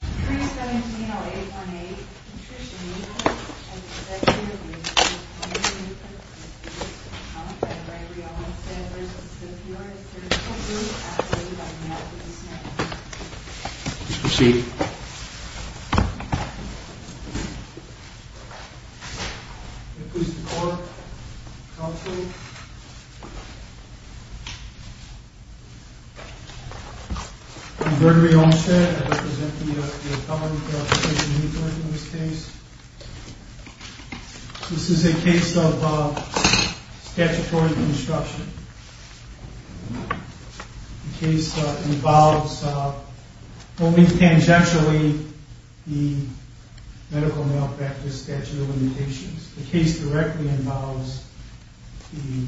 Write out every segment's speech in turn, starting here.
3-17-0-8-1-8, Patricia Neukirk, Executive Division, Ltd, v. Gregory Olmstead, v. The Peoria Surgical Group, Ltd. Please proceed. If we support, counsel. I'm Gregory Olmstead. I represent the appellant, Patricia Neukirk, in this case. This is a case of statutory construction. The case involves, only tangentially, the medical malpractice statute of limitations. The case directly involves the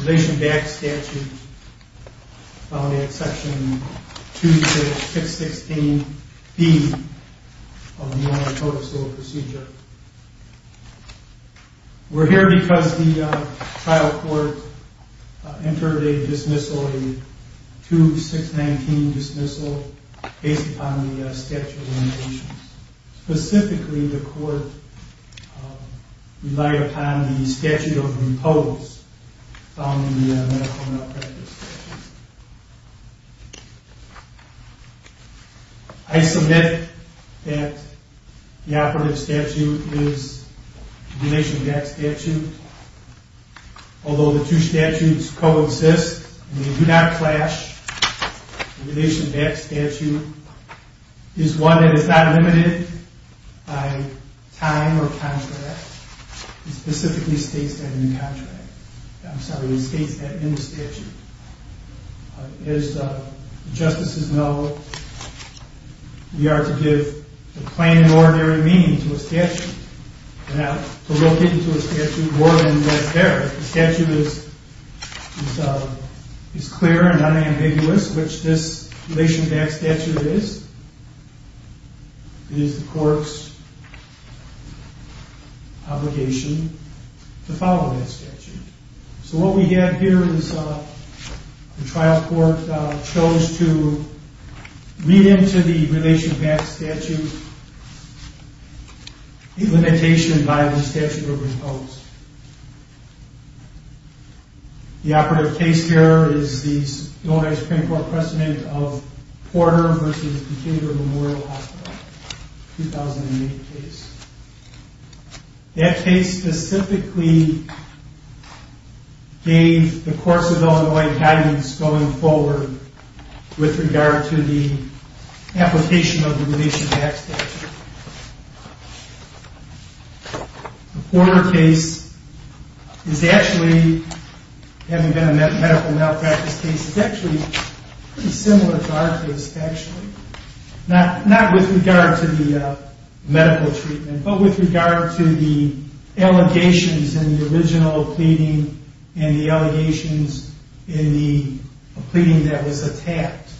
relation-backed statute found in section 2-6-16-B of the United Court of Civil Procedure. We're here because the trial court entered a dismissal, a 2-6-19 dismissal, based upon the statute of limitations. Specifically, the court relied upon the statute of repose found in the medical malpractice statute. I submit that the operative statute is the relation-backed statute. Although the two statutes coexist, they do not clash, the relation-backed statute is one that is not limited by time or contract. It specifically states that in the contract. I'm sorry, it states that in the statute. As justices know, we are to give the plain and ordinary meaning to a statute. We're not to locate it to a statute more than that's there. If the statute is clear and unambiguous, which this relation-backed statute is, it is the court's obligation to follow that statute. So what we have here is the trial court chose to read into the relation-backed statute a limitation by the statute of repose. The operative case here is the Illinois Supreme Court precedent of Porter v. Decatur Memorial Hospital, 2008 case. That case specifically gave the course of Illinois guidance going forward with regard to the application of the relation-backed statute. The Porter case is actually, having been a medical malpractice case, is actually pretty similar to our case, actually. Not with regard to the medical treatment, but with regard to the allegations in the original pleading and the allegations in the pleading that was attacked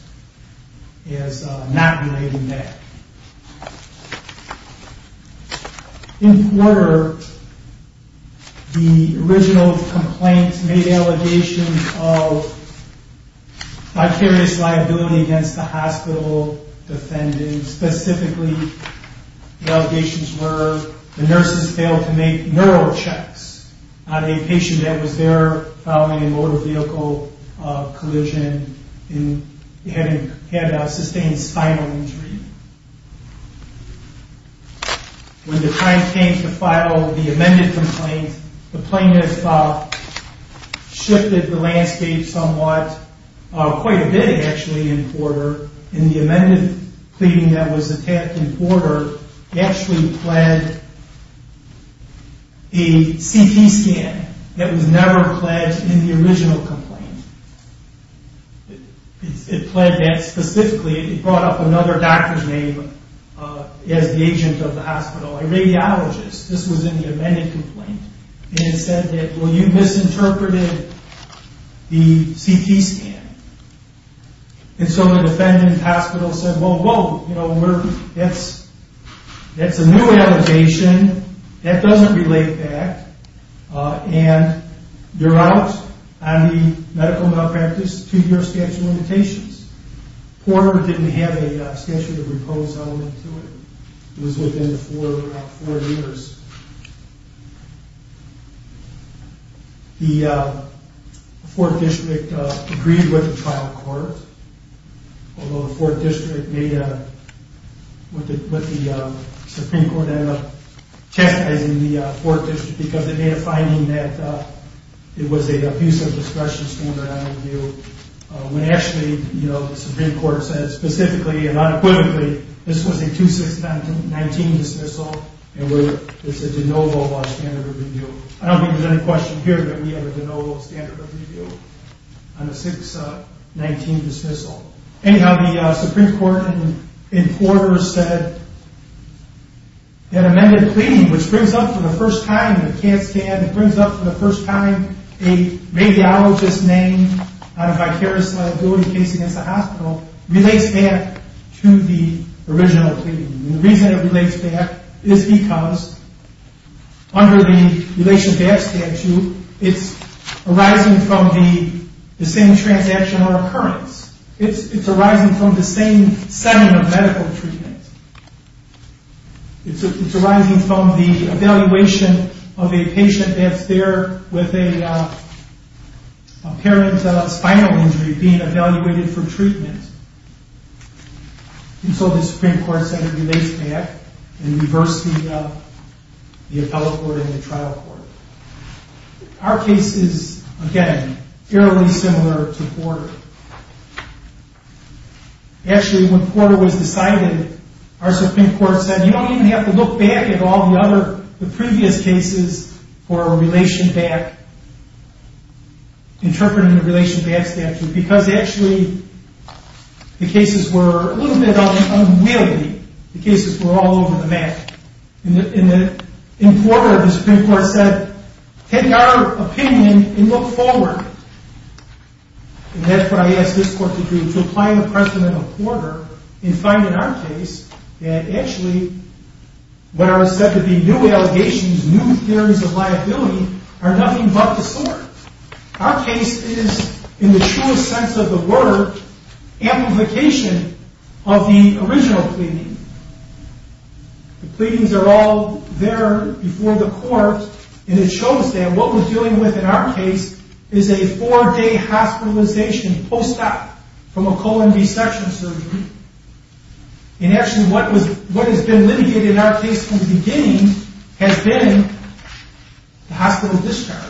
as not relating that. In Porter, the original complaint made allegations of vicarious liability against the hospital, Specifically, allegations were the nurses failed to make neural checks on a patient that was there following a motor vehicle collision and had sustained spinal injury. When the time came to file the amended complaint, the plaintiff shifted the landscape somewhat, quite a bit, actually, in Porter. In the amended pleading that was attacked in Porter, it actually pled a CT scan that was never pledged in the original complaint. It pled that specifically, it brought up another doctor's name as the agent of the hospital, a radiologist. This was in the amended complaint, and it said that, well, you misinterpreted the CT scan. And so the defendant's hospital said, well, that's a new allegation, that doesn't relate back, and you're out on the medical malpractice two-year statute of limitations. Porter didn't have a statute of repose element to it. It was within four years. The Fourth District agreed with the trial court, although the Supreme Court ended up chastising the Fourth District because it made a finding that it was an abusive discretion standard. When actually, the Supreme Court said specifically and unequivocally, this was a 2-6-19 dismissal, and it's a de novo standard of review. I don't think there's any question here that we have a de novo standard of review on a 6-19 dismissal. Anyhow, the Supreme Court in Porter said that amended pleading, which brings up for the first time the CAT scan, it brings up for the first time a radiologist's name on a vicarious liability case against the hospital, relates back to the original pleading. The reason it relates back is because under the relation back statute, it's arising from the same transactional occurrence. It's arising from the same setting of medical treatment. It's arising from the evaluation of a patient that's there with a apparent spinal injury being evaluated for treatment. And so the Supreme Court said it relates back and reversed the appellate court and the trial court. Our case is, again, fairly similar to Porter. Actually, when Porter was decided, our Supreme Court said, you don't even have to look back at all the previous cases for a relation back, interpreting the relation back statute, because actually the cases were a little bit unwieldy. The cases were all over the map. And in Porter, the Supreme Court said, take our opinion and look forward. And that's what I asked this court to do, to apply the precedent of Porter and find in our case that actually what are said to be new allegations, new theories of liability, are nothing but the sort. Our case is, in the truest sense of the word, amplification of the original pleading. The pleadings are all there before the court, and it shows that what we're dealing with in our case is a four-day hospitalization post-op from a colon resection surgery. And actually, what has been litigated in our case from the beginning has been the hospital discharge.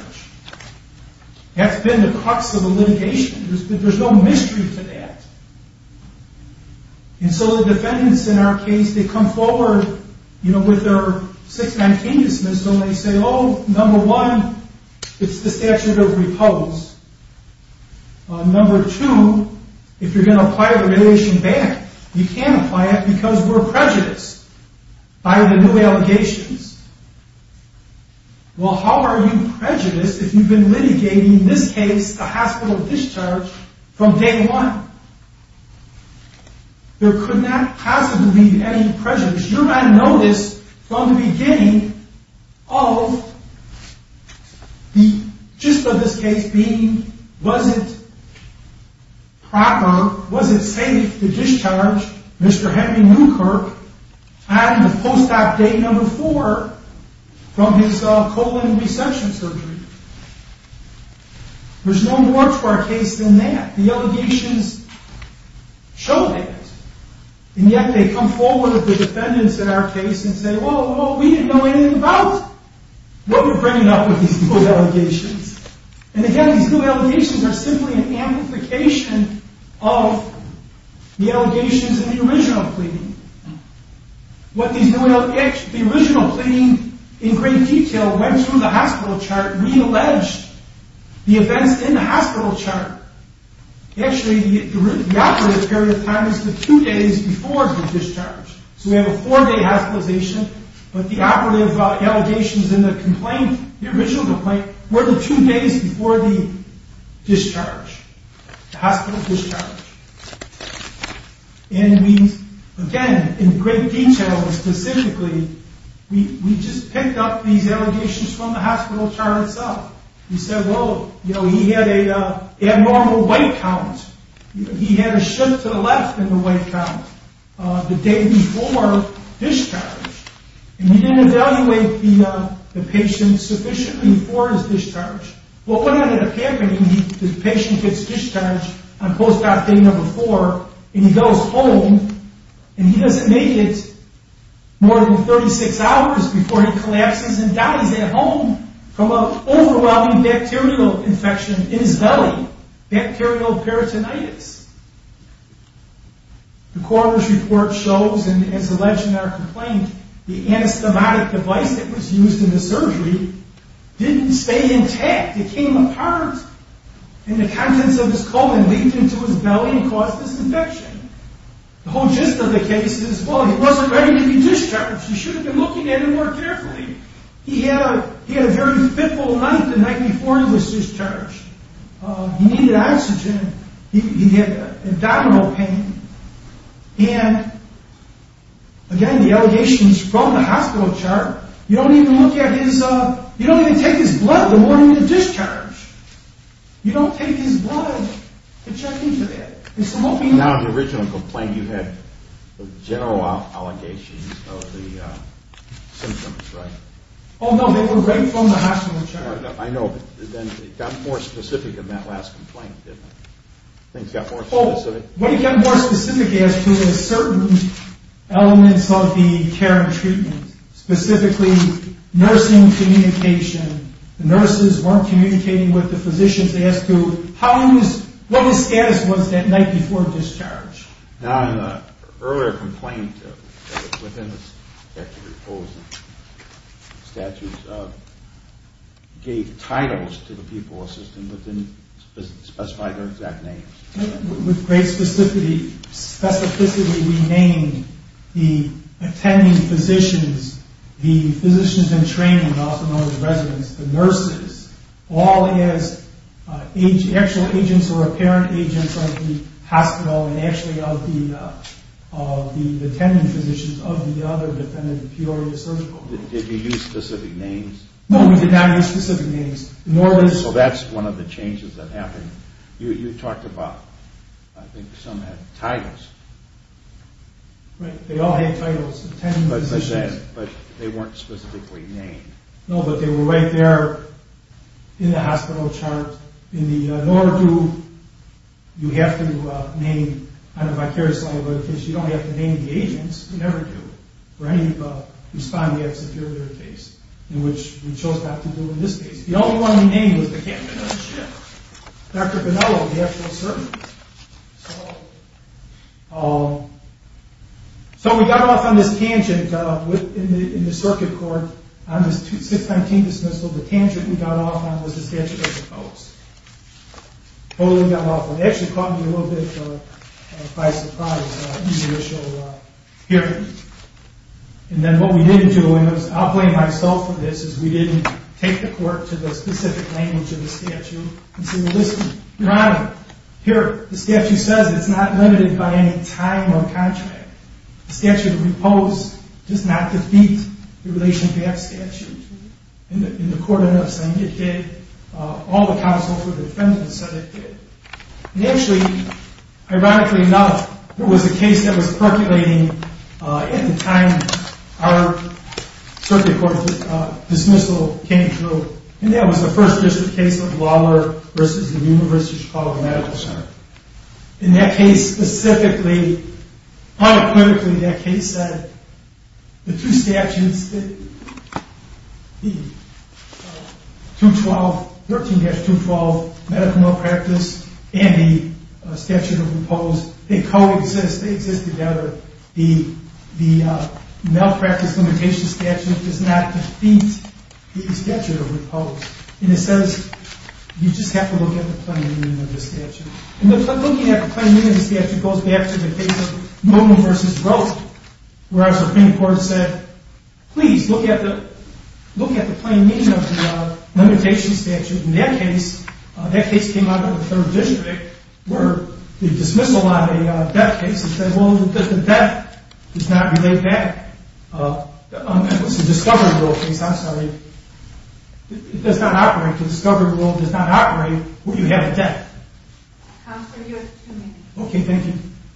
That's been the crux of the litigation. There's no mystery to that. And so the defendants in our case, they come forward with their six-man cadence, and they say, oh, number one, it's the statute of repose. Number two, if you're going to apply the radiation ban, you can't apply it because we're prejudiced by the new allegations. Well, how are you prejudiced if you've been litigating, in this case, the hospital discharge from day one? There could not possibly be any prejudice. You might notice from the beginning of the gist of this case being, was it proper, was it safe to discharge Mr. Henry Newkirk at the post-op day number four from his colon resection surgery? There's no more to our case than that. The allegations show that. And yet they come forward with the defendants in our case and say, well, we didn't know anything about what we're bringing up with these new allegations. And again, these new allegations are simply an amplification of the allegations in the original pleading. The original pleading, in great detail, went through the hospital chart, realleged the events in the hospital chart. Actually, the operative period of time is the two days before the discharge. So we have a four-day hospitalization, but the operative allegations in the complaint, the original complaint, were the two days before the discharge, the hospital discharge. And we, again, in great detail, specifically, we just picked up these allegations from the hospital chart itself. We said, well, you know, he had an abnormal white count. He had a shift to the left in the white count the day before discharge. And we didn't evaluate the patient sufficiently before his discharge. Well, what ended up happening, the patient gets discharged on post-op day number four, and he goes home, and he doesn't make it more than 36 hours before he collapses and dies at home from an overwhelming bacterial infection in his belly, bacterial peritonitis. The coroner's report shows, and it's alleged in our complaint, the anastomotic device that was used in the surgery didn't stay intact. It came apart, and the contents of his colon leaked into his belly and caused this infection. The whole gist of the case is, well, he wasn't ready to be discharged. You shouldn't have been looking at him more carefully. He had a very pitful night the night before he was discharged. He needed oxygen. He had abdominal pain. And, again, the allegations from the hospital chart, you don't even look at his, you don't even take his blood the morning of discharge. You don't take his blood to check into that. Now, in the original complaint, you had general allegations of the symptoms, right? Oh, no, they were right from the hospital chart. I know, but then it got more specific in that last complaint, didn't it? Things got more specific. Well, it got more specific as to certain elements of the care and treatment, specifically nursing communication. The nurses weren't communicating with the physicians as to how long his, what his status was that night before discharge. Now, in the earlier complaint, within the statute, it gave titles to the people assisted, but didn't specify their exact names. With great specificity, we named the attending physicians, the physicians in training, also known as residents, the nurses, all as actual agents or apparent agents of the hospital and actually of the attending physicians of the other dependent imperial surgical hospitals. Did you use specific names? No, we did not use specific names. So that's one of the changes that happened. You talked about, I think some had titles. Right, they all had titles, attending physicians. But they weren't specifically named. No, but they were right there in the hospital chart. In the NORADU, you have to name, I don't know if I care to say it, but you don't have to name the agents. You never do. Or any of the respondents in the earlier case, in which we chose not to do in this case. The only one we named was the captain of the ship, Dr. Bonello, the actual surgeon. So we got off on this tangent in the circuit court on this 619 dismissal. The tangent we got off on was the statute of the post. Totally got off on it. It actually caught me a little bit by surprise in the initial hearing. And then what we didn't do, and I'll blame myself for this, is we didn't take the court to the specific language of the statute. Here, the statute says it's not limited by any time or contract. The statute of the post does not defeat the relation to that statute. And the court ended up saying it did. All the counsel for the defendant said it did. And actually, ironically enough, there was a case that was percolating at the time our circuit court dismissal came through. And that was the First District case of Lawler versus the University of Chicago Medical Center. In that case specifically, unequivocally, that case said the two statutes, the 212, 13-212 medical malpractice and the statute of the post, they coexist. They exist together. The malpractice limitation statute does not defeat the statute of the post. And it says you just have to look at the plain meaning of the statute. And looking at the plain meaning of the statute goes back to the case of Norton versus Rote, where our Supreme Court said, please, look at the plain meaning of the limitation statute. In that case, that case came out of the Third District where the dismissal on a death case because the death does not relate back. It was a discovery rule case. I'm sorry. It does not operate. The discovery rule does not operate where you have a death. Counselor, you have two minutes. Okay, thank you.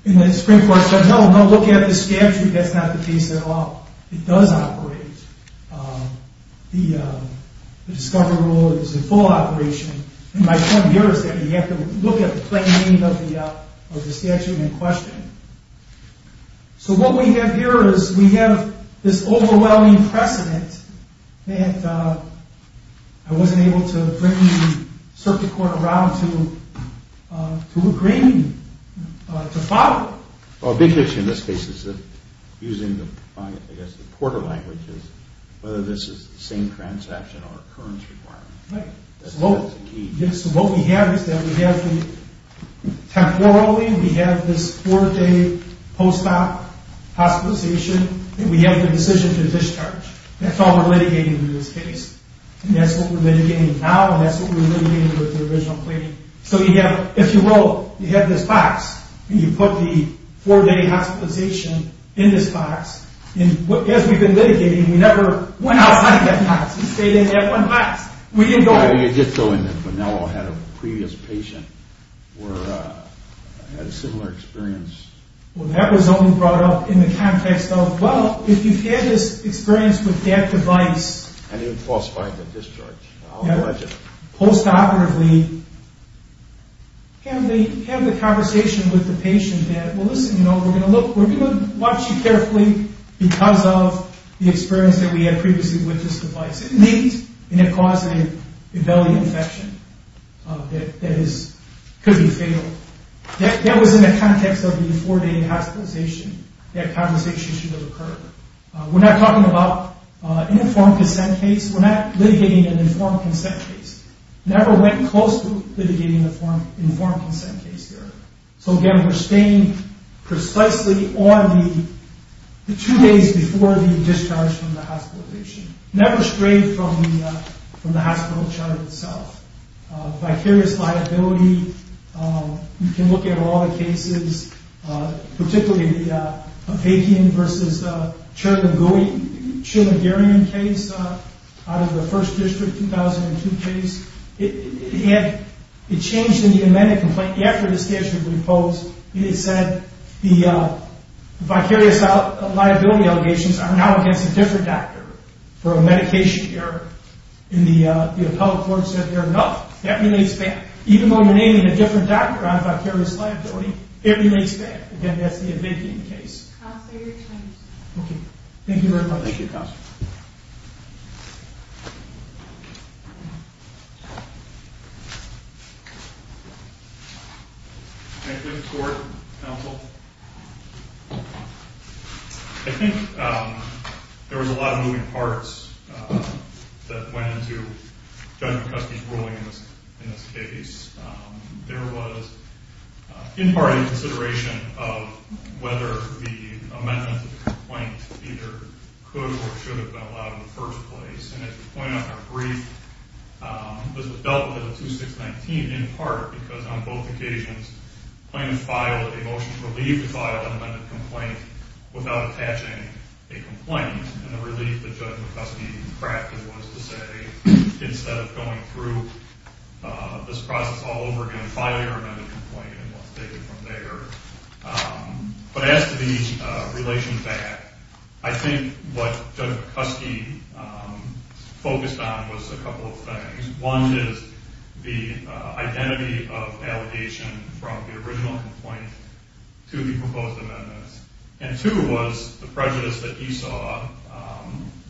And the Supreme Court said, no, no, look at the statute. That's not the case at all. It does operate. The discovery rule is in full operation. And my point here is that you have to look at the plain meaning of the statute in question. So what we have here is we have this overwhelming precedent that I wasn't able to bring the circuit court around to agree to follow. Well, a big issue in this case is using, I guess, the porter language is whether this is the same transaction or occurrence requirement. Right. So what we have is that we have the temporally, we have this four-day post-op hospitalization, and we have the decision to discharge. That's all we're litigating in this case. And that's what we're litigating now, and that's what we're litigating with the original claim. So you have, if you will, you have this box, and you put the four-day hospitalization in this box. And as we've been litigating, we never went outside that box. We stayed in that one box. We didn't go in. You did go in, but no one had a previous patient or had a similar experience. Well, that was only brought up in the context of, well, if you had this experience with that device. And it would falsify the discharge. I'll allege it. Post-operatively, can they have the conversation with the patient that, well, listen, you know, we're going to look, we're going to watch you carefully because of the experience that we had previously with this device. Maybe it caused a belly infection that could be fatal. That was in the context of the four-day hospitalization. That conversation should have occurred. We're not talking about an informed consent case. We're not litigating an informed consent case. Never went close to litigating an informed consent case here. So, again, we're staying precisely on the two days before the discharge from the hospitalization. Never strayed from the hospital chart itself. Vicarious liability. You can look at all the cases, particularly the Papakian v. Chumagarian case out of the First District 2002 case. It changed in the amended complaint. After the statute was imposed, it said the vicarious liability allegations are now against a different doctor. For a medication error in the appellate court, it said they're enough. That remains fair. Even though you're naming a different doctor on vicarious liability, it remains fair. Again, that's the amending case. Thank you very much. Thank you, Counsel. Thank you, Mr. Gordon, Counsel. I think there was a lot of moving parts that went into Judge McCuskey's ruling in this case. There was, in part, a consideration of whether the amendment to the complaint either could or should have been allowed in the first place. And as we pointed out in our brief, this was dealt with in the 2619 in part because on both occasions, the plaintiff filed a motion to leave the file of the amended complaint without attaching a complaint. And the relief that Judge McCuskey crafted was to say, instead of going through this process all over again, file your amended complaint and we'll take it from there. But as to the relation to that, I think what Judge McCuskey focused on was a couple of things. One is the identity of allegation from the original complaint to the proposed amendments. And two was the prejudice that he saw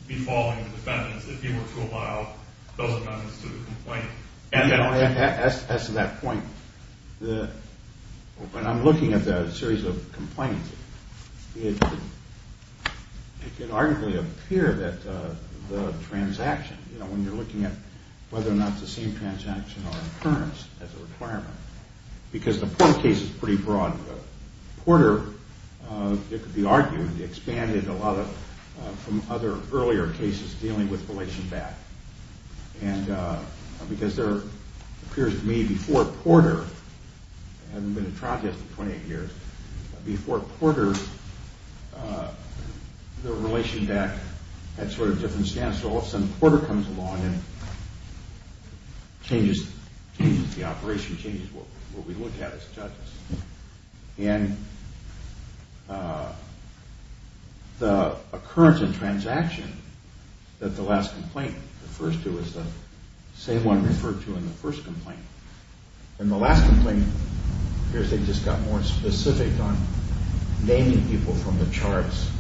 befalling the defendants if he were to allow those amendments to the complaint. As to that point, when I'm looking at the series of complaints, it can arguably appear that the transaction, when you're looking at whether or not the same transaction or occurrence as a requirement, because the Porter case is pretty broad. Porter, it could be argued, expanded a lot from other earlier cases dealing with relation back. And because there appears to me before Porter, I haven't been in trial just in 28 years, before Porter, the relation back had sort of different stance. So all of a sudden, Porter comes along and changes the operation, changes what we look at as judges. And the occurrence of transaction that the last complaint refers to is the same one referred to in the first complaint. In the last complaint, it appears they just got more specific on naming people from the charts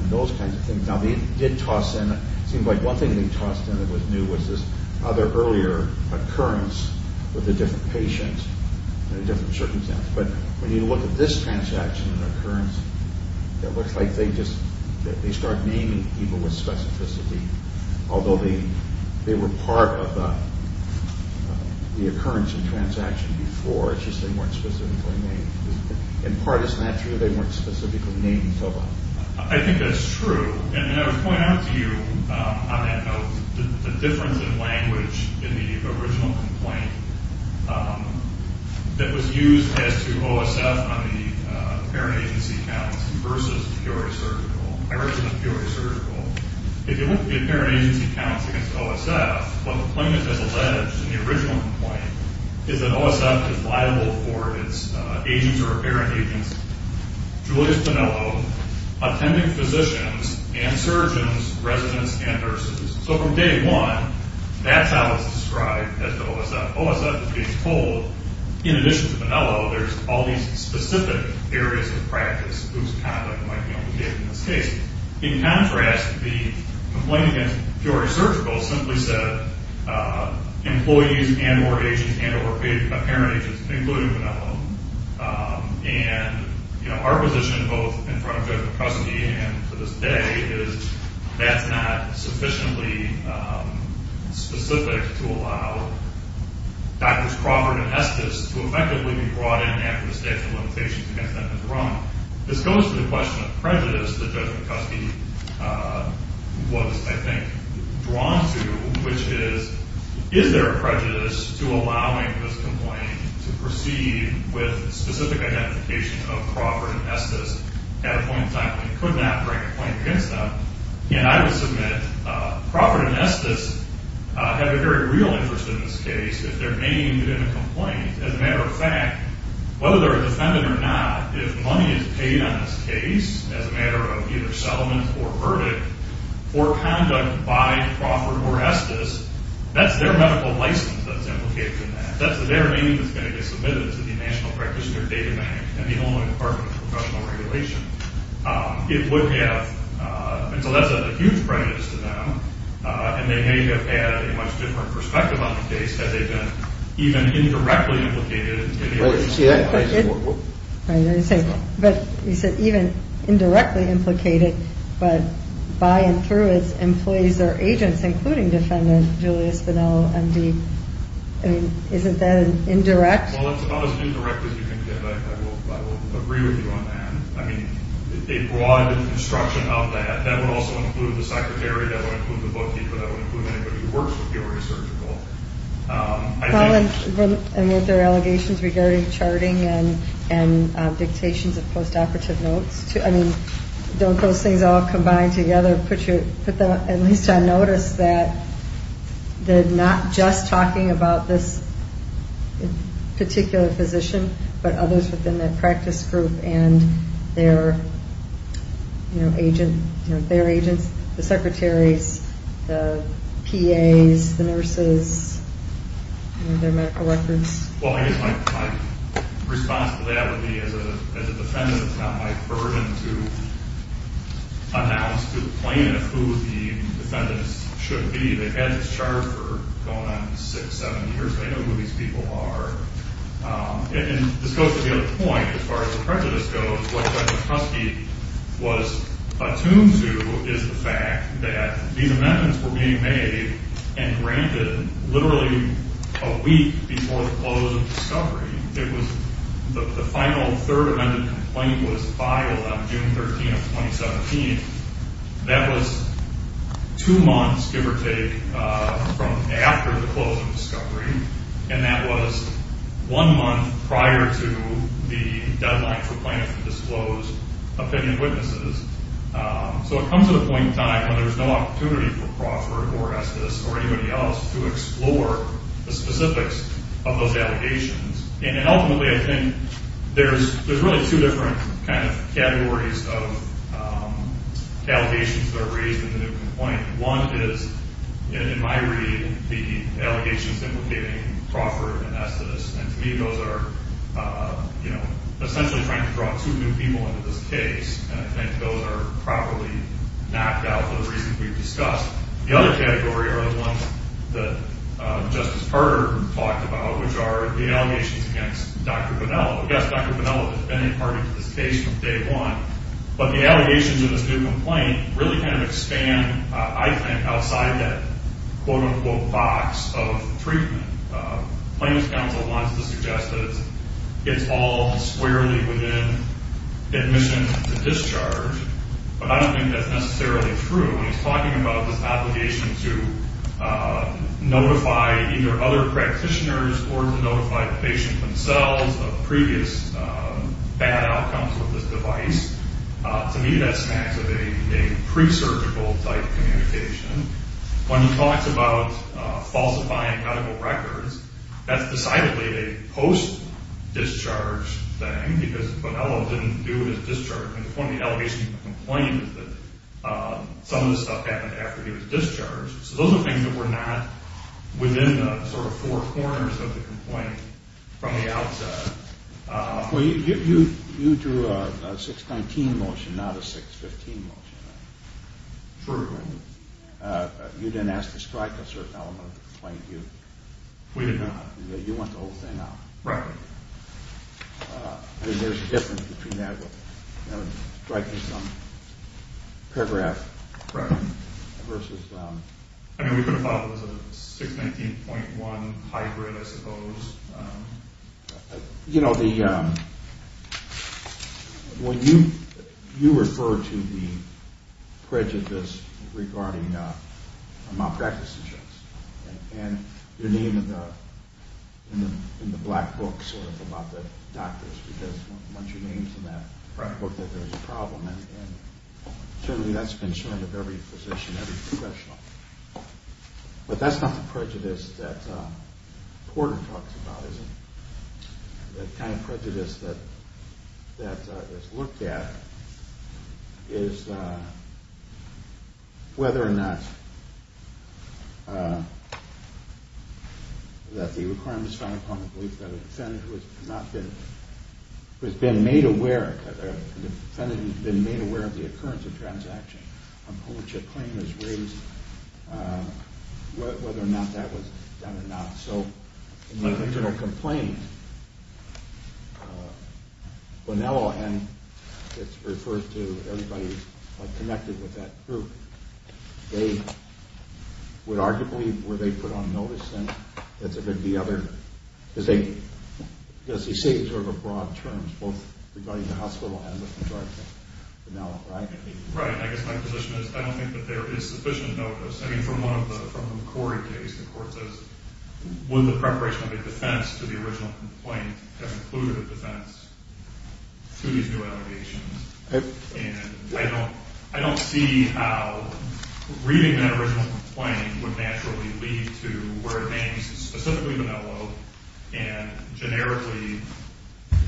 and those kinds of things. Now they did toss in, it seems like one thing they tossed in that was new was this other earlier occurrence with a different patient and a different circumstance. But when you look at this transaction and occurrence, it looks like they just, they start naming people with specificity, although they were part of the occurrence of transaction before. It's just they weren't specifically named. In part, it's not true they weren't specifically named. I think that's true. And I would point out to you on that note the difference in language in the original complaint that was used as to OSF on the parent agency counts versus Peoria Surgical. I recommend Peoria Surgical. If you look at parent agency counts against OSF, what the plaintiff has alleged in the original complaint is that OSF is liable for its agents or parent agents, Julius Piniello, attending physicians and surgeons, residents, and nurses. So from day one, that's how it's described as to OSF. OSF is being told, in addition to Piniello, there's all these specific areas of practice whose conduct might be obligated in this case. In contrast, the complaint against Peoria Surgical simply said employees and or agents and or parent agents, including Piniello. And our position both in front of Judge McCuskey and to this day is that's not sufficiently specific to allow Drs. Crawford and Estes to effectively be brought in after the statute of limitations against them has run. This goes to the question of prejudice that Judge McCuskey was, I think, drawn to, which is, is there a prejudice to allowing this complaint to proceed with specific identification of Crawford and Estes at a point in time when you could not bring a complaint against them? And I would submit Crawford and Estes have a very real interest in this case if they're named in a complaint. As a matter of fact, whether they're a defendant or not, if money is paid on this case as a matter of either settlement or verdict or conduct by Crawford or Estes, that's their medical license that's implicated in that. That's their name that's going to be submitted to the National Practitioner Data Bank and the Illinois Department of Professional Regulation. It would have, and so that's a huge prejudice to them, and they may have had a much different perspective on the case had they been even indirectly implicated in the case. But you said even indirectly implicated, but by and through its employees or agents, including Defendant Julius Bonello, M.D. I mean, isn't that indirect? Well, it's about as indirect as you can get. I will agree with you on that. I mean, a broad instruction of that, that would also include the secretary, that would include the bookkeeper, that would include anybody who works with the Oregon Surgical. Colin, and with their allegations regarding charting and dictations of post-operative notes, I mean, don't those things all combine together put you at least on notice that they're not just talking about this particular physician, but others within that practice group and their agents, the secretaries, the PAs, the nurses, their medical records? Well, I guess my response to that would be as a defendant it's not my burden to announce, to plaintiff who the defendants should be. They've had this chart for going on six, seven years. They know who these people are. And this goes to the other point as far as the prejudice goes. What Judge McCluskey was attuned to is the fact that these amendments were being made and granted literally a week before the close of discovery. It was the final third amended complaint was filed on June 13th, 2017. That was two months, give or take, from after the close of discovery. And that was one month prior to the deadline for plaintiffs to disclose opinion witnesses. So it comes to the point in time when there's no opportunity for Crawford or Estes or anybody else to explore the specifics of those allegations. And ultimately I think there's really two different kind of categories of allegations that are raised in the new complaint. One is, in my read, the allegations implicating Crawford and Estes. And to me those are essentially trying to draw two new people into this case. And I think those are probably knocked out for the reasons we've discussed. The other category are the ones that Justice Carter talked about, which are the allegations against Dr. Bonello. Yes, Dr. Bonello has been a part of this case from day one. But the allegations in this new complaint really kind of expand, I think, outside that quote-unquote box of treatment. Plaintiffs' counsel wants to suggest that it's all squarely within admission to discharge. But I don't think that's necessarily true. When he's talking about this obligation to notify either other practitioners or to notify the patient themselves of previous bad outcomes with this device, to me that smacks of a presurgical-type communication. When he talks about falsifying medical records, that's decidedly a post-discharge thing because Bonello didn't do his discharge. And one of the allegations in the complaint is that some of this stuff happened after he was discharged. So those are things that were not within the sort of four corners of the complaint from the outset. Well, you drew a 619 motion, not a 615 motion. True. You didn't ask to strike a certain element of the complaint, did you? We did not. You went the whole thing out. Right. I mean, there's a difference between that with striking some paragraph. Right. Versus... I mean, we could have thought it was a 619.1 hybrid, I suppose. You know, when you refer to the prejudice regarding malpractice insurance and your name in the black book sort of about the doctors, because once your name's in that black book that there's a problem, and certainly that's been said of every physician, every professional. But that's not the prejudice that Porter talks about, is it? The kind of prejudice that is looked at is whether or not that the requirement is found upon the belief that a defendant who has been made aware, a defendant who has been made aware of the occurrence of transaction upon which a claim is raised, whether or not that was done or not. So in the original complaint, Bonello and, it's referred to, everybody connected with that group, they would arguably, were they put on notice, then? It's a bit of the other... Because they say in sort of broad terms, both regarding the hospital and the contractor, Bonello, right? Right. I guess my position is I don't think that there is sufficient notice. I mean, from the McCord case, the court says, would the preparation of a defense to the original complaint have included a defense to these new allegations? And I don't see how reading that original complaint would naturally lead to where it may be specifically Bonello and generically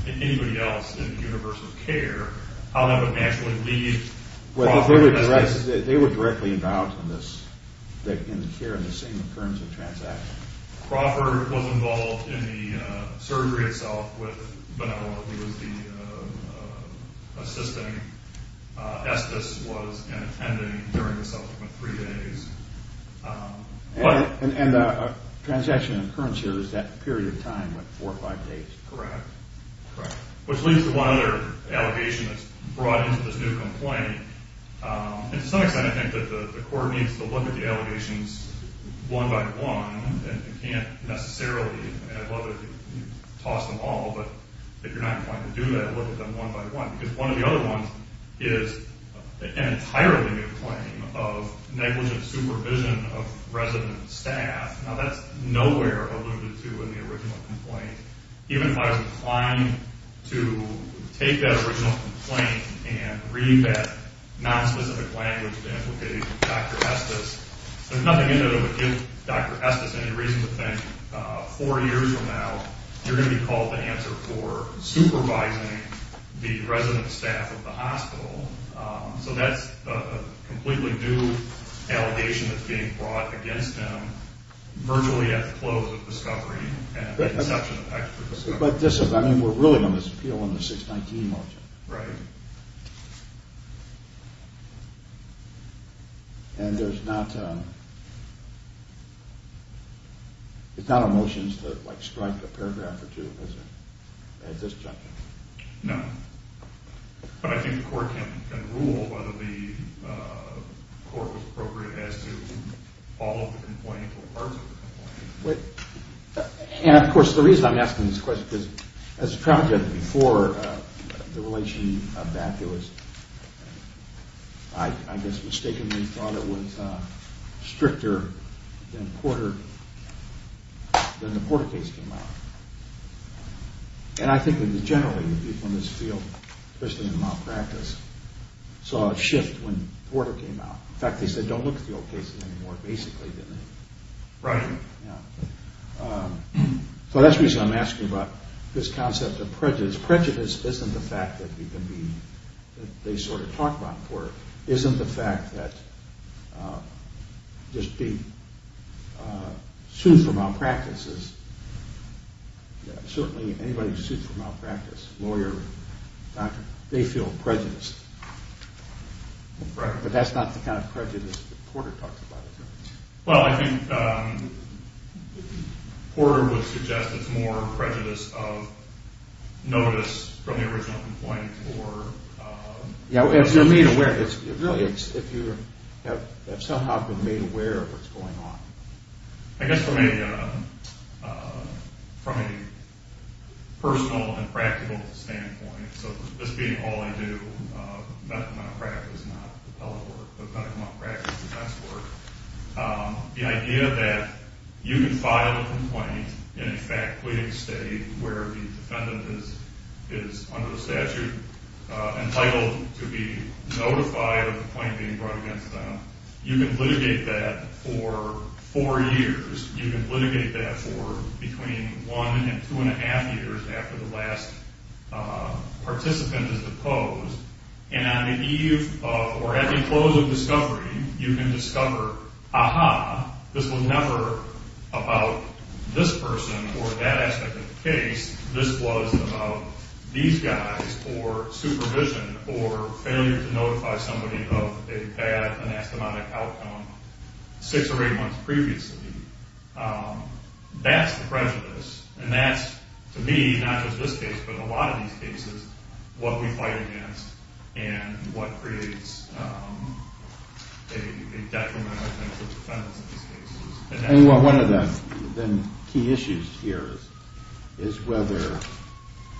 anybody else in the universe of care, how that would naturally lead Crawford... Well, they were directly involved in this, in the care of the same occurrence of transaction. Crawford was involved in the surgery itself with Bonello. He was the assistant. Estes was in attending during the subsequent three days. And the transaction in occurrence here is that period of time, what, four or five days? Correct. Correct. Which leads to one other allegation that's brought into this new complaint. And to some extent, I think that the court needs to look at the allegations one by one and can't necessarily toss them all. But if you're not inclined to do that, look at them one by one. Because one of the other ones is an entirely new claim of negligent supervision of resident staff. Now, that's nowhere alluded to in the original complaint. Even if I was inclined to take that original complaint and read that nonspecific language that implicated Dr. Estes, there's nothing in there that would give Dr. Estes any reason to think four years from now you're going to be called to answer for supervising the resident staff of the hospital. So that's a completely new allegation that's being brought against him virtually at the close of discovery and at the inception of extra discovery. But this is, I mean, we're really going to appeal on the 619 motion. Right. And there's not a motion to, like, strike a paragraph or two at this juncture? No. But I think the court can rule whether the court was appropriate as to all of the complaints or parts of the complaint. And, of course, the reason I'm asking this question is, as a trial judge, before the relation of that, there was, I guess, mistakenly thought it was stricter than Porter, than the Porter case came out. And I think that generally the people in this field, especially in malpractice, saw a shift when Porter came out. In fact, they said, don't look at the old cases anymore, basically, didn't they? Right. So that's the reason I'm asking about this concept of prejudice. Prejudice isn't the fact that we can be, that they sort of talk about Porter. Isn't the fact that just being sued for malpractice, certainly anybody who's sued for malpractice, lawyer, doctor, they feel prejudice. Right. But that's not the kind of prejudice that Porter talks about. Well, I think Porter would suggest it's more prejudice of notice from the original complaint or... Yeah, if you're made aware, really, if you have somehow been made aware of what's going on. I guess from a personal and practical standpoint, so this being all I do, medical malpractice is not the public work, but medical malpractice is the best work, the idea that you can file a complaint in a fact-leading state where the defendant is under the statute entitled to be notified of the claim being brought against them. You can litigate that for four years. You can litigate that for between one and two and a half years after the last participant is deposed. And on the eve of or at the close of discovery, you can discover, aha, this was never about this person or that aspect of the case. This was about these guys or supervision or failure to notify somebody of a bad anastomotic outcome six or eight months previously. That's the prejudice, and that's, to me, not just this case, but a lot of these cases, what we fight against and what creates a detrimental effect for defendants in these cases. One of the key issues here is whether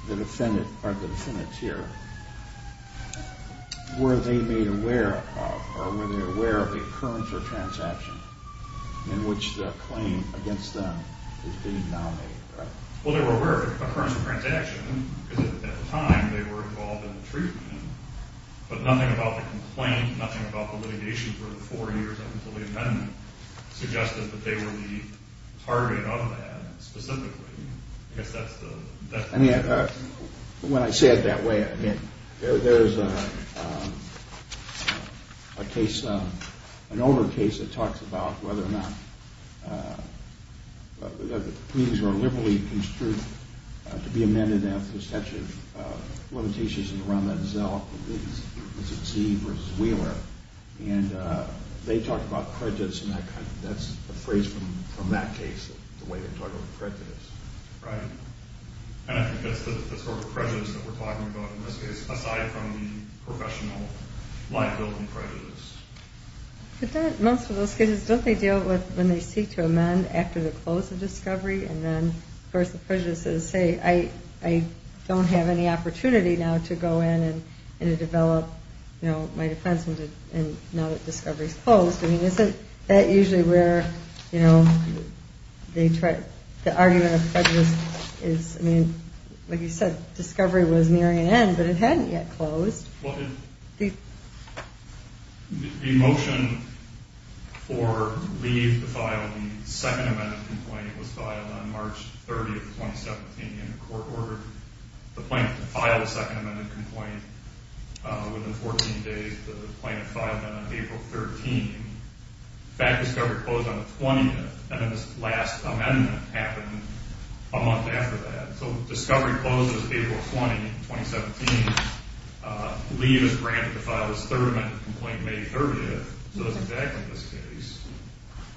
the defendant or the defendants here were they made aware of or were they aware of the occurrence or transaction in which the claim against them is being nominated. Well, they were aware of the occurrence or transaction because at the time they were involved in the treatment, but nothing about the complaint, nothing about the litigation for the four years until the amendment suggested that they were the target of that specifically. I mean, when I say it that way, I mean, there's a case, an older case that talks about whether or not the claims were liberally construed to be amended after the statute of limitations in the Rommel and Zell case, which is Z versus Wheeler, and they talk about prejudice and that kind of thing. That's a phrase from that case, the way they talk about prejudice. Right. And I think that's the sort of prejudice that we're talking about in this case, aside from the professional liability prejudice. But most of those cases, don't they deal with when they seek to amend after the close of discovery, and then of course the prejudices say, I don't have any opportunity now to go in and develop my defense now that discovery is closed. I mean, isn't that usually where the argument of prejudice is? I mean, like you said, discovery was nearing an end, but it hadn't yet closed. The motion for leave to file the second amendment complaint was filed on March 30, 2017, and the court ordered the plaintiff to file the second amendment complaint within 14 days. The plaintiff filed that on April 13. In fact, discovery closed on the 20th, and then this last amendment happened a month after that. So discovery closes April 20, 2017. Leave is granted to file this third amendment complaint May 30th. So that's exactly this case.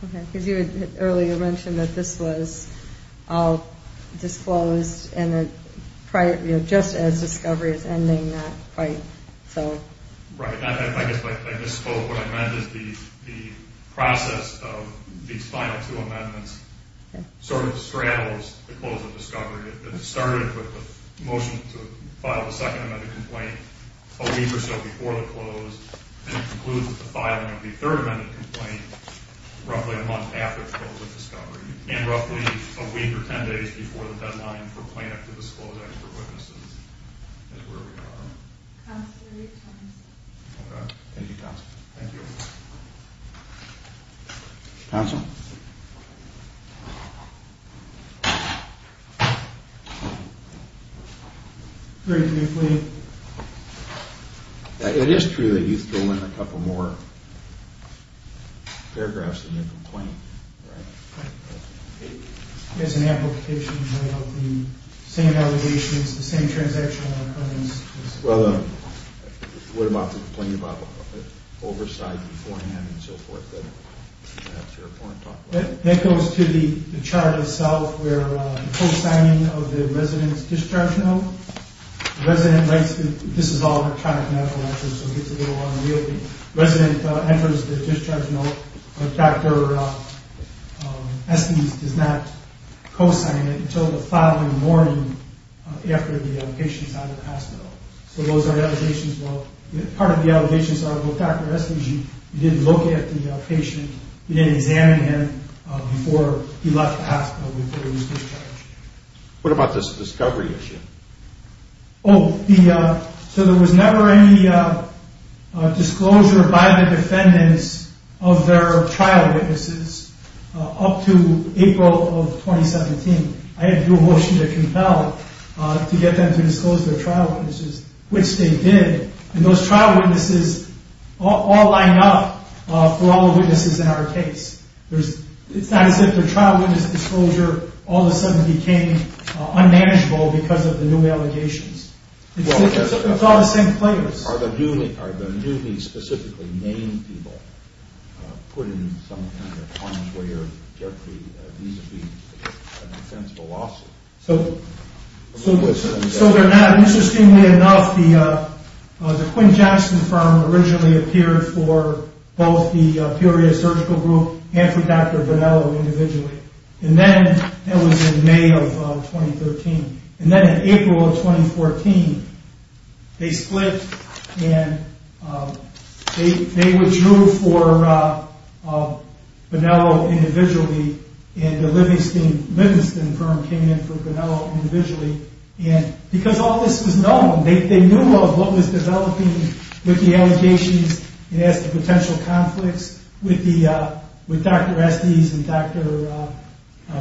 Okay. Because you had earlier mentioned that this was all disclosed just as discovery is ending that fight. Right. I misspoke. What I meant is the process of these final two amendments sort of straddles the close of discovery. It started with the motion to file the second amendment complaint a week or so before the close, and it concludes with the filing of the third amendment complaint roughly a month after the close of discovery, and roughly a week or 10 days before the deadline for plaintiff to disclose extra witnesses is where we are. Thank you, counsel. Thank you. Counsel? Very briefly. It is true that you fill in a couple more paragraphs in your complaint, right? It's an amplification of the same allegations, the same transactional occurrences. Well, what about the complaint about oversight beforehand and so forth that perhaps your opponent talked about? That goes to the chart itself where the full signing of the resident's discharge note. The resident writes that this is all electronic medical records, so it gets a little unreal. The resident enters the discharge note. Dr. Estes does not co-sign it until the following morning after the patient is out of the hospital. So those are allegations. Part of the allegations are, well, Dr. Estes, you didn't look at the patient. You didn't examine him before he left the hospital before he was discharged. What about this discovery issue? Oh, so there was never any disclosure by the defendants of their trial witnesses up to April of 2017. I had to do a whole sheet of compel to get them to disclose their trial witnesses, which they did. And those trial witnesses all lined up for all the witnesses in our case. It's not as if their trial witness disclosure all of a sudden became unmanageable because of the new allegations. It's all the same players. Are the new names specifically named people put in some kind of punch where there could be an offense of a lawsuit? So they're not. Interestingly enough, the Quinn-Jackson firm originally appeared for both the Peoria Surgical Group and for Dr. Bonello individually. And that was in May of 2013. And then in April of 2014, they split and they withdrew for Bonello individually. And the Livingston firm came in for Bonello individually. And because all this was known, they knew of what was developing with the allegations. It has the potential conflicts with Dr. Estes and Dr.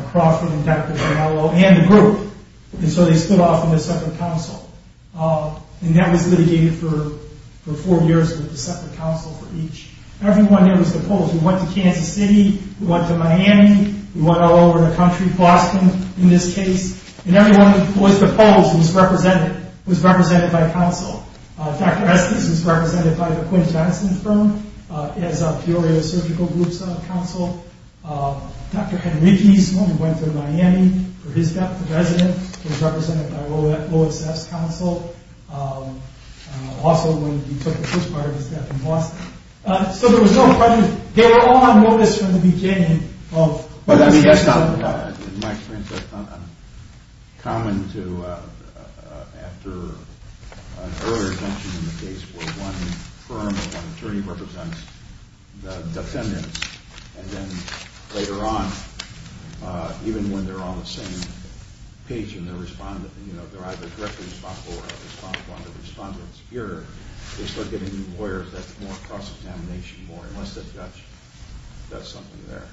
Crawford and Dr. Bonello and the group. And so they stood off in a separate council. And that was litigated for four years with a separate council for each. Everyone there was opposed. We went to Kansas City. We went to Miami. We went all over the country, Boston in this case. And everyone who was opposed was represented by a council. Dr. Estes was represented by the Quinn-Jackson firm as Peoria Surgical Group's council. Dr. Henriquez, when he went to Miami for his death, the resident, was represented by Lois F's council. Also when he took the first part of his death in Boston. So there was no prejudice. They were all on notice from the beginning. But I mean, that's not, in my experience, that's not uncommon to after an earlier detention in the case where one firm or one attorney represents the defendants. And then later on, even when they're on the same page in their respondent, you know, they're either directly responsible or are responsible under the respondent's peer, they start getting new lawyers that's more cross-examination more, unless the judge does something there.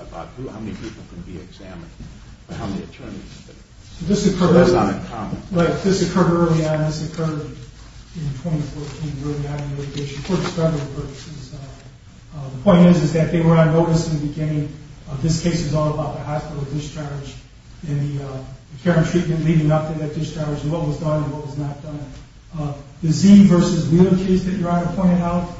About how many people can be examined, how many attorneys. That's not uncommon. This occurred early on. This occurred in 2014, early on in litigation for discriminatory purposes. The point is that they were on notice in the beginning. This case was all about the hospital discharge and the care and treatment leading up to that discharge and what was done and what was not done. The Zee versus Wheeler case that your Honor pointed out,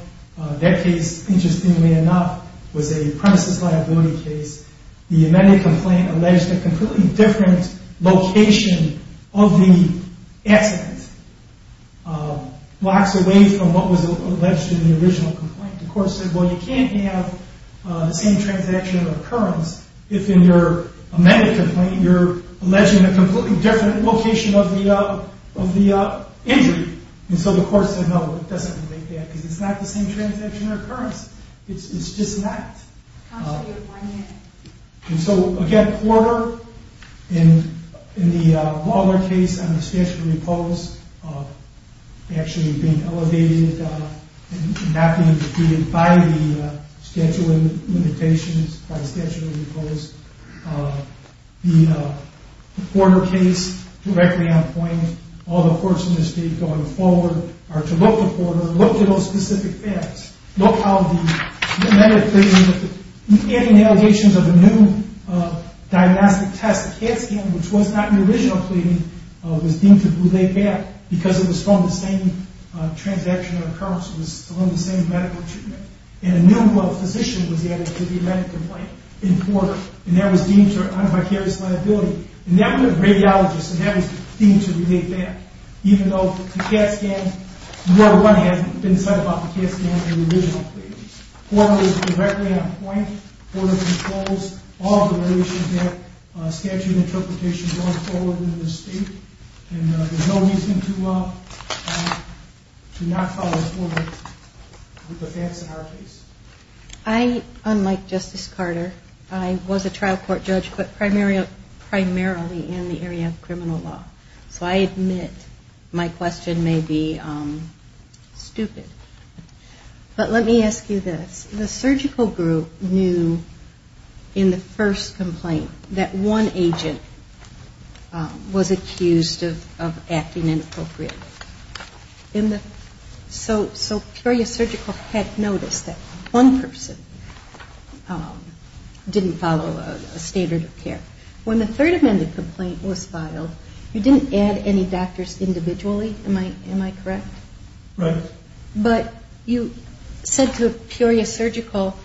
that case, interestingly enough, was a premises liability case. The amended complaint alleged a completely different location of the accident. Blocks away from what was alleged in the original complaint. The court said, well, you can't have the same transaction or occurrence if in your amended complaint you're alleging a completely different location of the injury. And so the court said, no, it doesn't relate to that because it's not the same transaction or occurrence. It's just not. And so again, Porter, in the Waller case, under statute of repose, actually being elevated and not being defeated by the statute of limitations, by the statute of repose, the Porter case directly on point, all the courts in this state going forward are to look to Porter, look to those specific facts, look how the amended claim that he's getting allegations of a new diagnostic test CAT scan, which was not in the original claim, was deemed to be laid back because it was from the same transaction or occurrence. It was on the same medical treatment. And a new physician was added to the amended complaint in Porter, and that was deemed to be a vicarious liability. And that was a radiologist, and that was deemed to be laid back, even though the CAT scan, more than one hasn't been said about the CAT scan in the original claim. Porter was directly on point. Porter controls all the regulations of statute interpretation going forward in this state, and there's no reason to not follow through with the facts in our case. I, unlike Justice Carter, I was a trial court judge, but primarily in the area of criminal law. So I admit my question may be stupid. But let me ask you this. The surgical group knew in the first complaint that one agent was accused of acting inappropriately. So Peoria Surgical had noticed that one person didn't follow a standard of care. When the third amended complaint was filed, you didn't add any doctors individually, am I correct? Right. But you said to Peoria Surgical,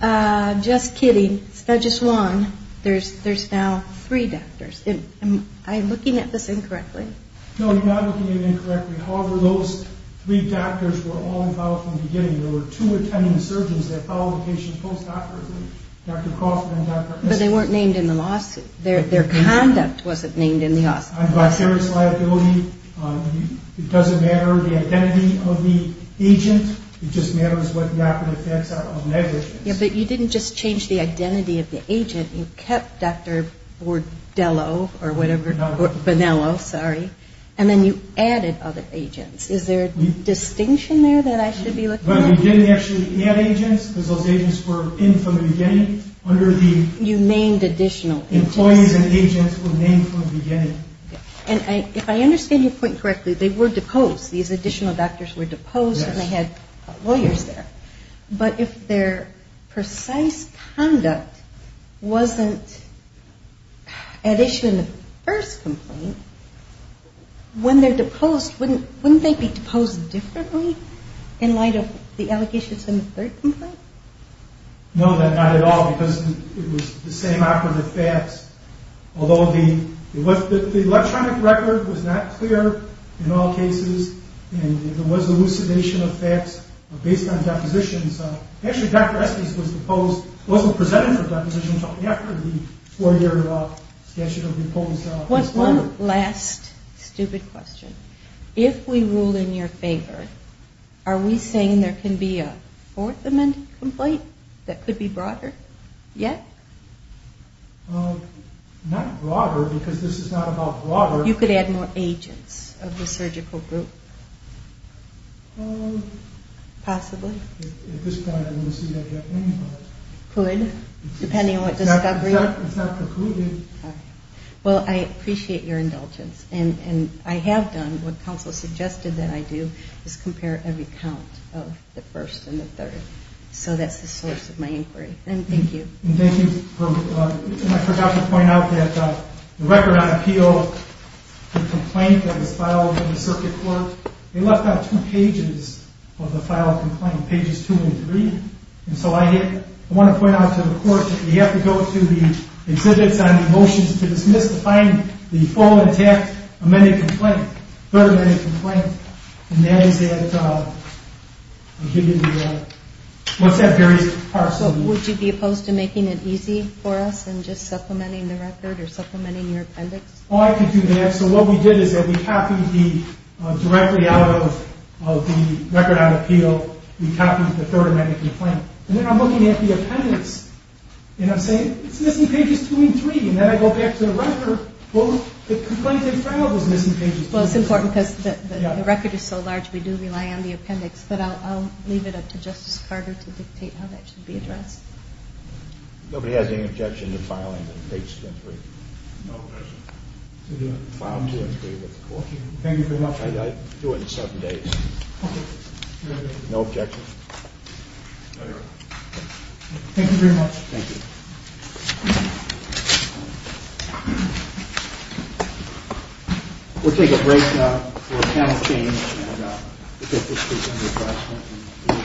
just kidding, it's not just one. There's now three doctors. Am I looking at this incorrectly? No, you're not looking at it incorrectly. However, those three doctors were all involved from the beginning. There were two attending surgeons that followed the patient post-operatively, Dr. Crawford and Dr. Esselstyn. But they weren't named in the lawsuit. Their conduct wasn't named in the lawsuit. It doesn't matter the identity of the agent. It just matters what the operative effects are on negligence. Yeah, but you didn't just change the identity of the agent. You kept Dr. Bordello or whatever, Bonello, sorry, and then you added other agents. Is there a distinction there that I should be looking at? Well, we didn't actually add agents because those agents were in from the beginning. You named additional agents. Employees and agents were named from the beginning. And if I understand your point correctly, they were deposed. These additional doctors were deposed and they had lawyers there. But if their precise conduct wasn't at issue in the first complaint, when they're deposed, wouldn't they be deposed differently in light of the allegations in the third complaint? No, not at all, because it was the same operative facts. Although the electronic record was not clear in all cases, and there was elucidation of facts based on depositions. Actually, Dr. Esselstyn was deposed, wasn't presented for deposition, but after the four-year statute of repose. One last stupid question. If we rule in your favor, are we saying there can be a fourth amended complaint that could be broader yet? Not broader, because this is not about broader. You could add more agents of the surgical group? Possibly? At this point, I don't see that yet. Could, depending on what discovery? It's not concluded. Well, I appreciate your indulgence. And I have done what counsel suggested that I do, is compare every count of the first and the third. So that's the source of my inquiry. And thank you. And thank you. I forgot to point out that the record on appeal, the complaint that was filed in the circuit court, they left out two pages of the filed complaint, pages two and three. And so I want to point out to the court that you have to go to the exhibits on the motions to dismiss to find the full intact amended complaint, third amended complaint. And that is at, what's that various parcel? Would you be opposed to making it easy for us and just supplementing the record or supplementing your appendix? Oh, I could do that. So what we did is that we copied the, directly out of the record on appeal, we copied the third amended complaint. And then I'm looking at the appendix. And I'm saying, it's missing pages two and three. And then I go back to the record. Well, the complaint they filed was missing pages two and three. Well, it's important because the record is so large, we do rely on the appendix. But I'll leave it up to Justice Carter to dictate how that should be addressed. Nobody has any objection to filing page two and three? No objection. File two and three with the court. Thank you very much. I'll do it in seven days. Okay. No objections? No, Your Honor. Thank you very much. Thank you. We'll take a break now for panel change.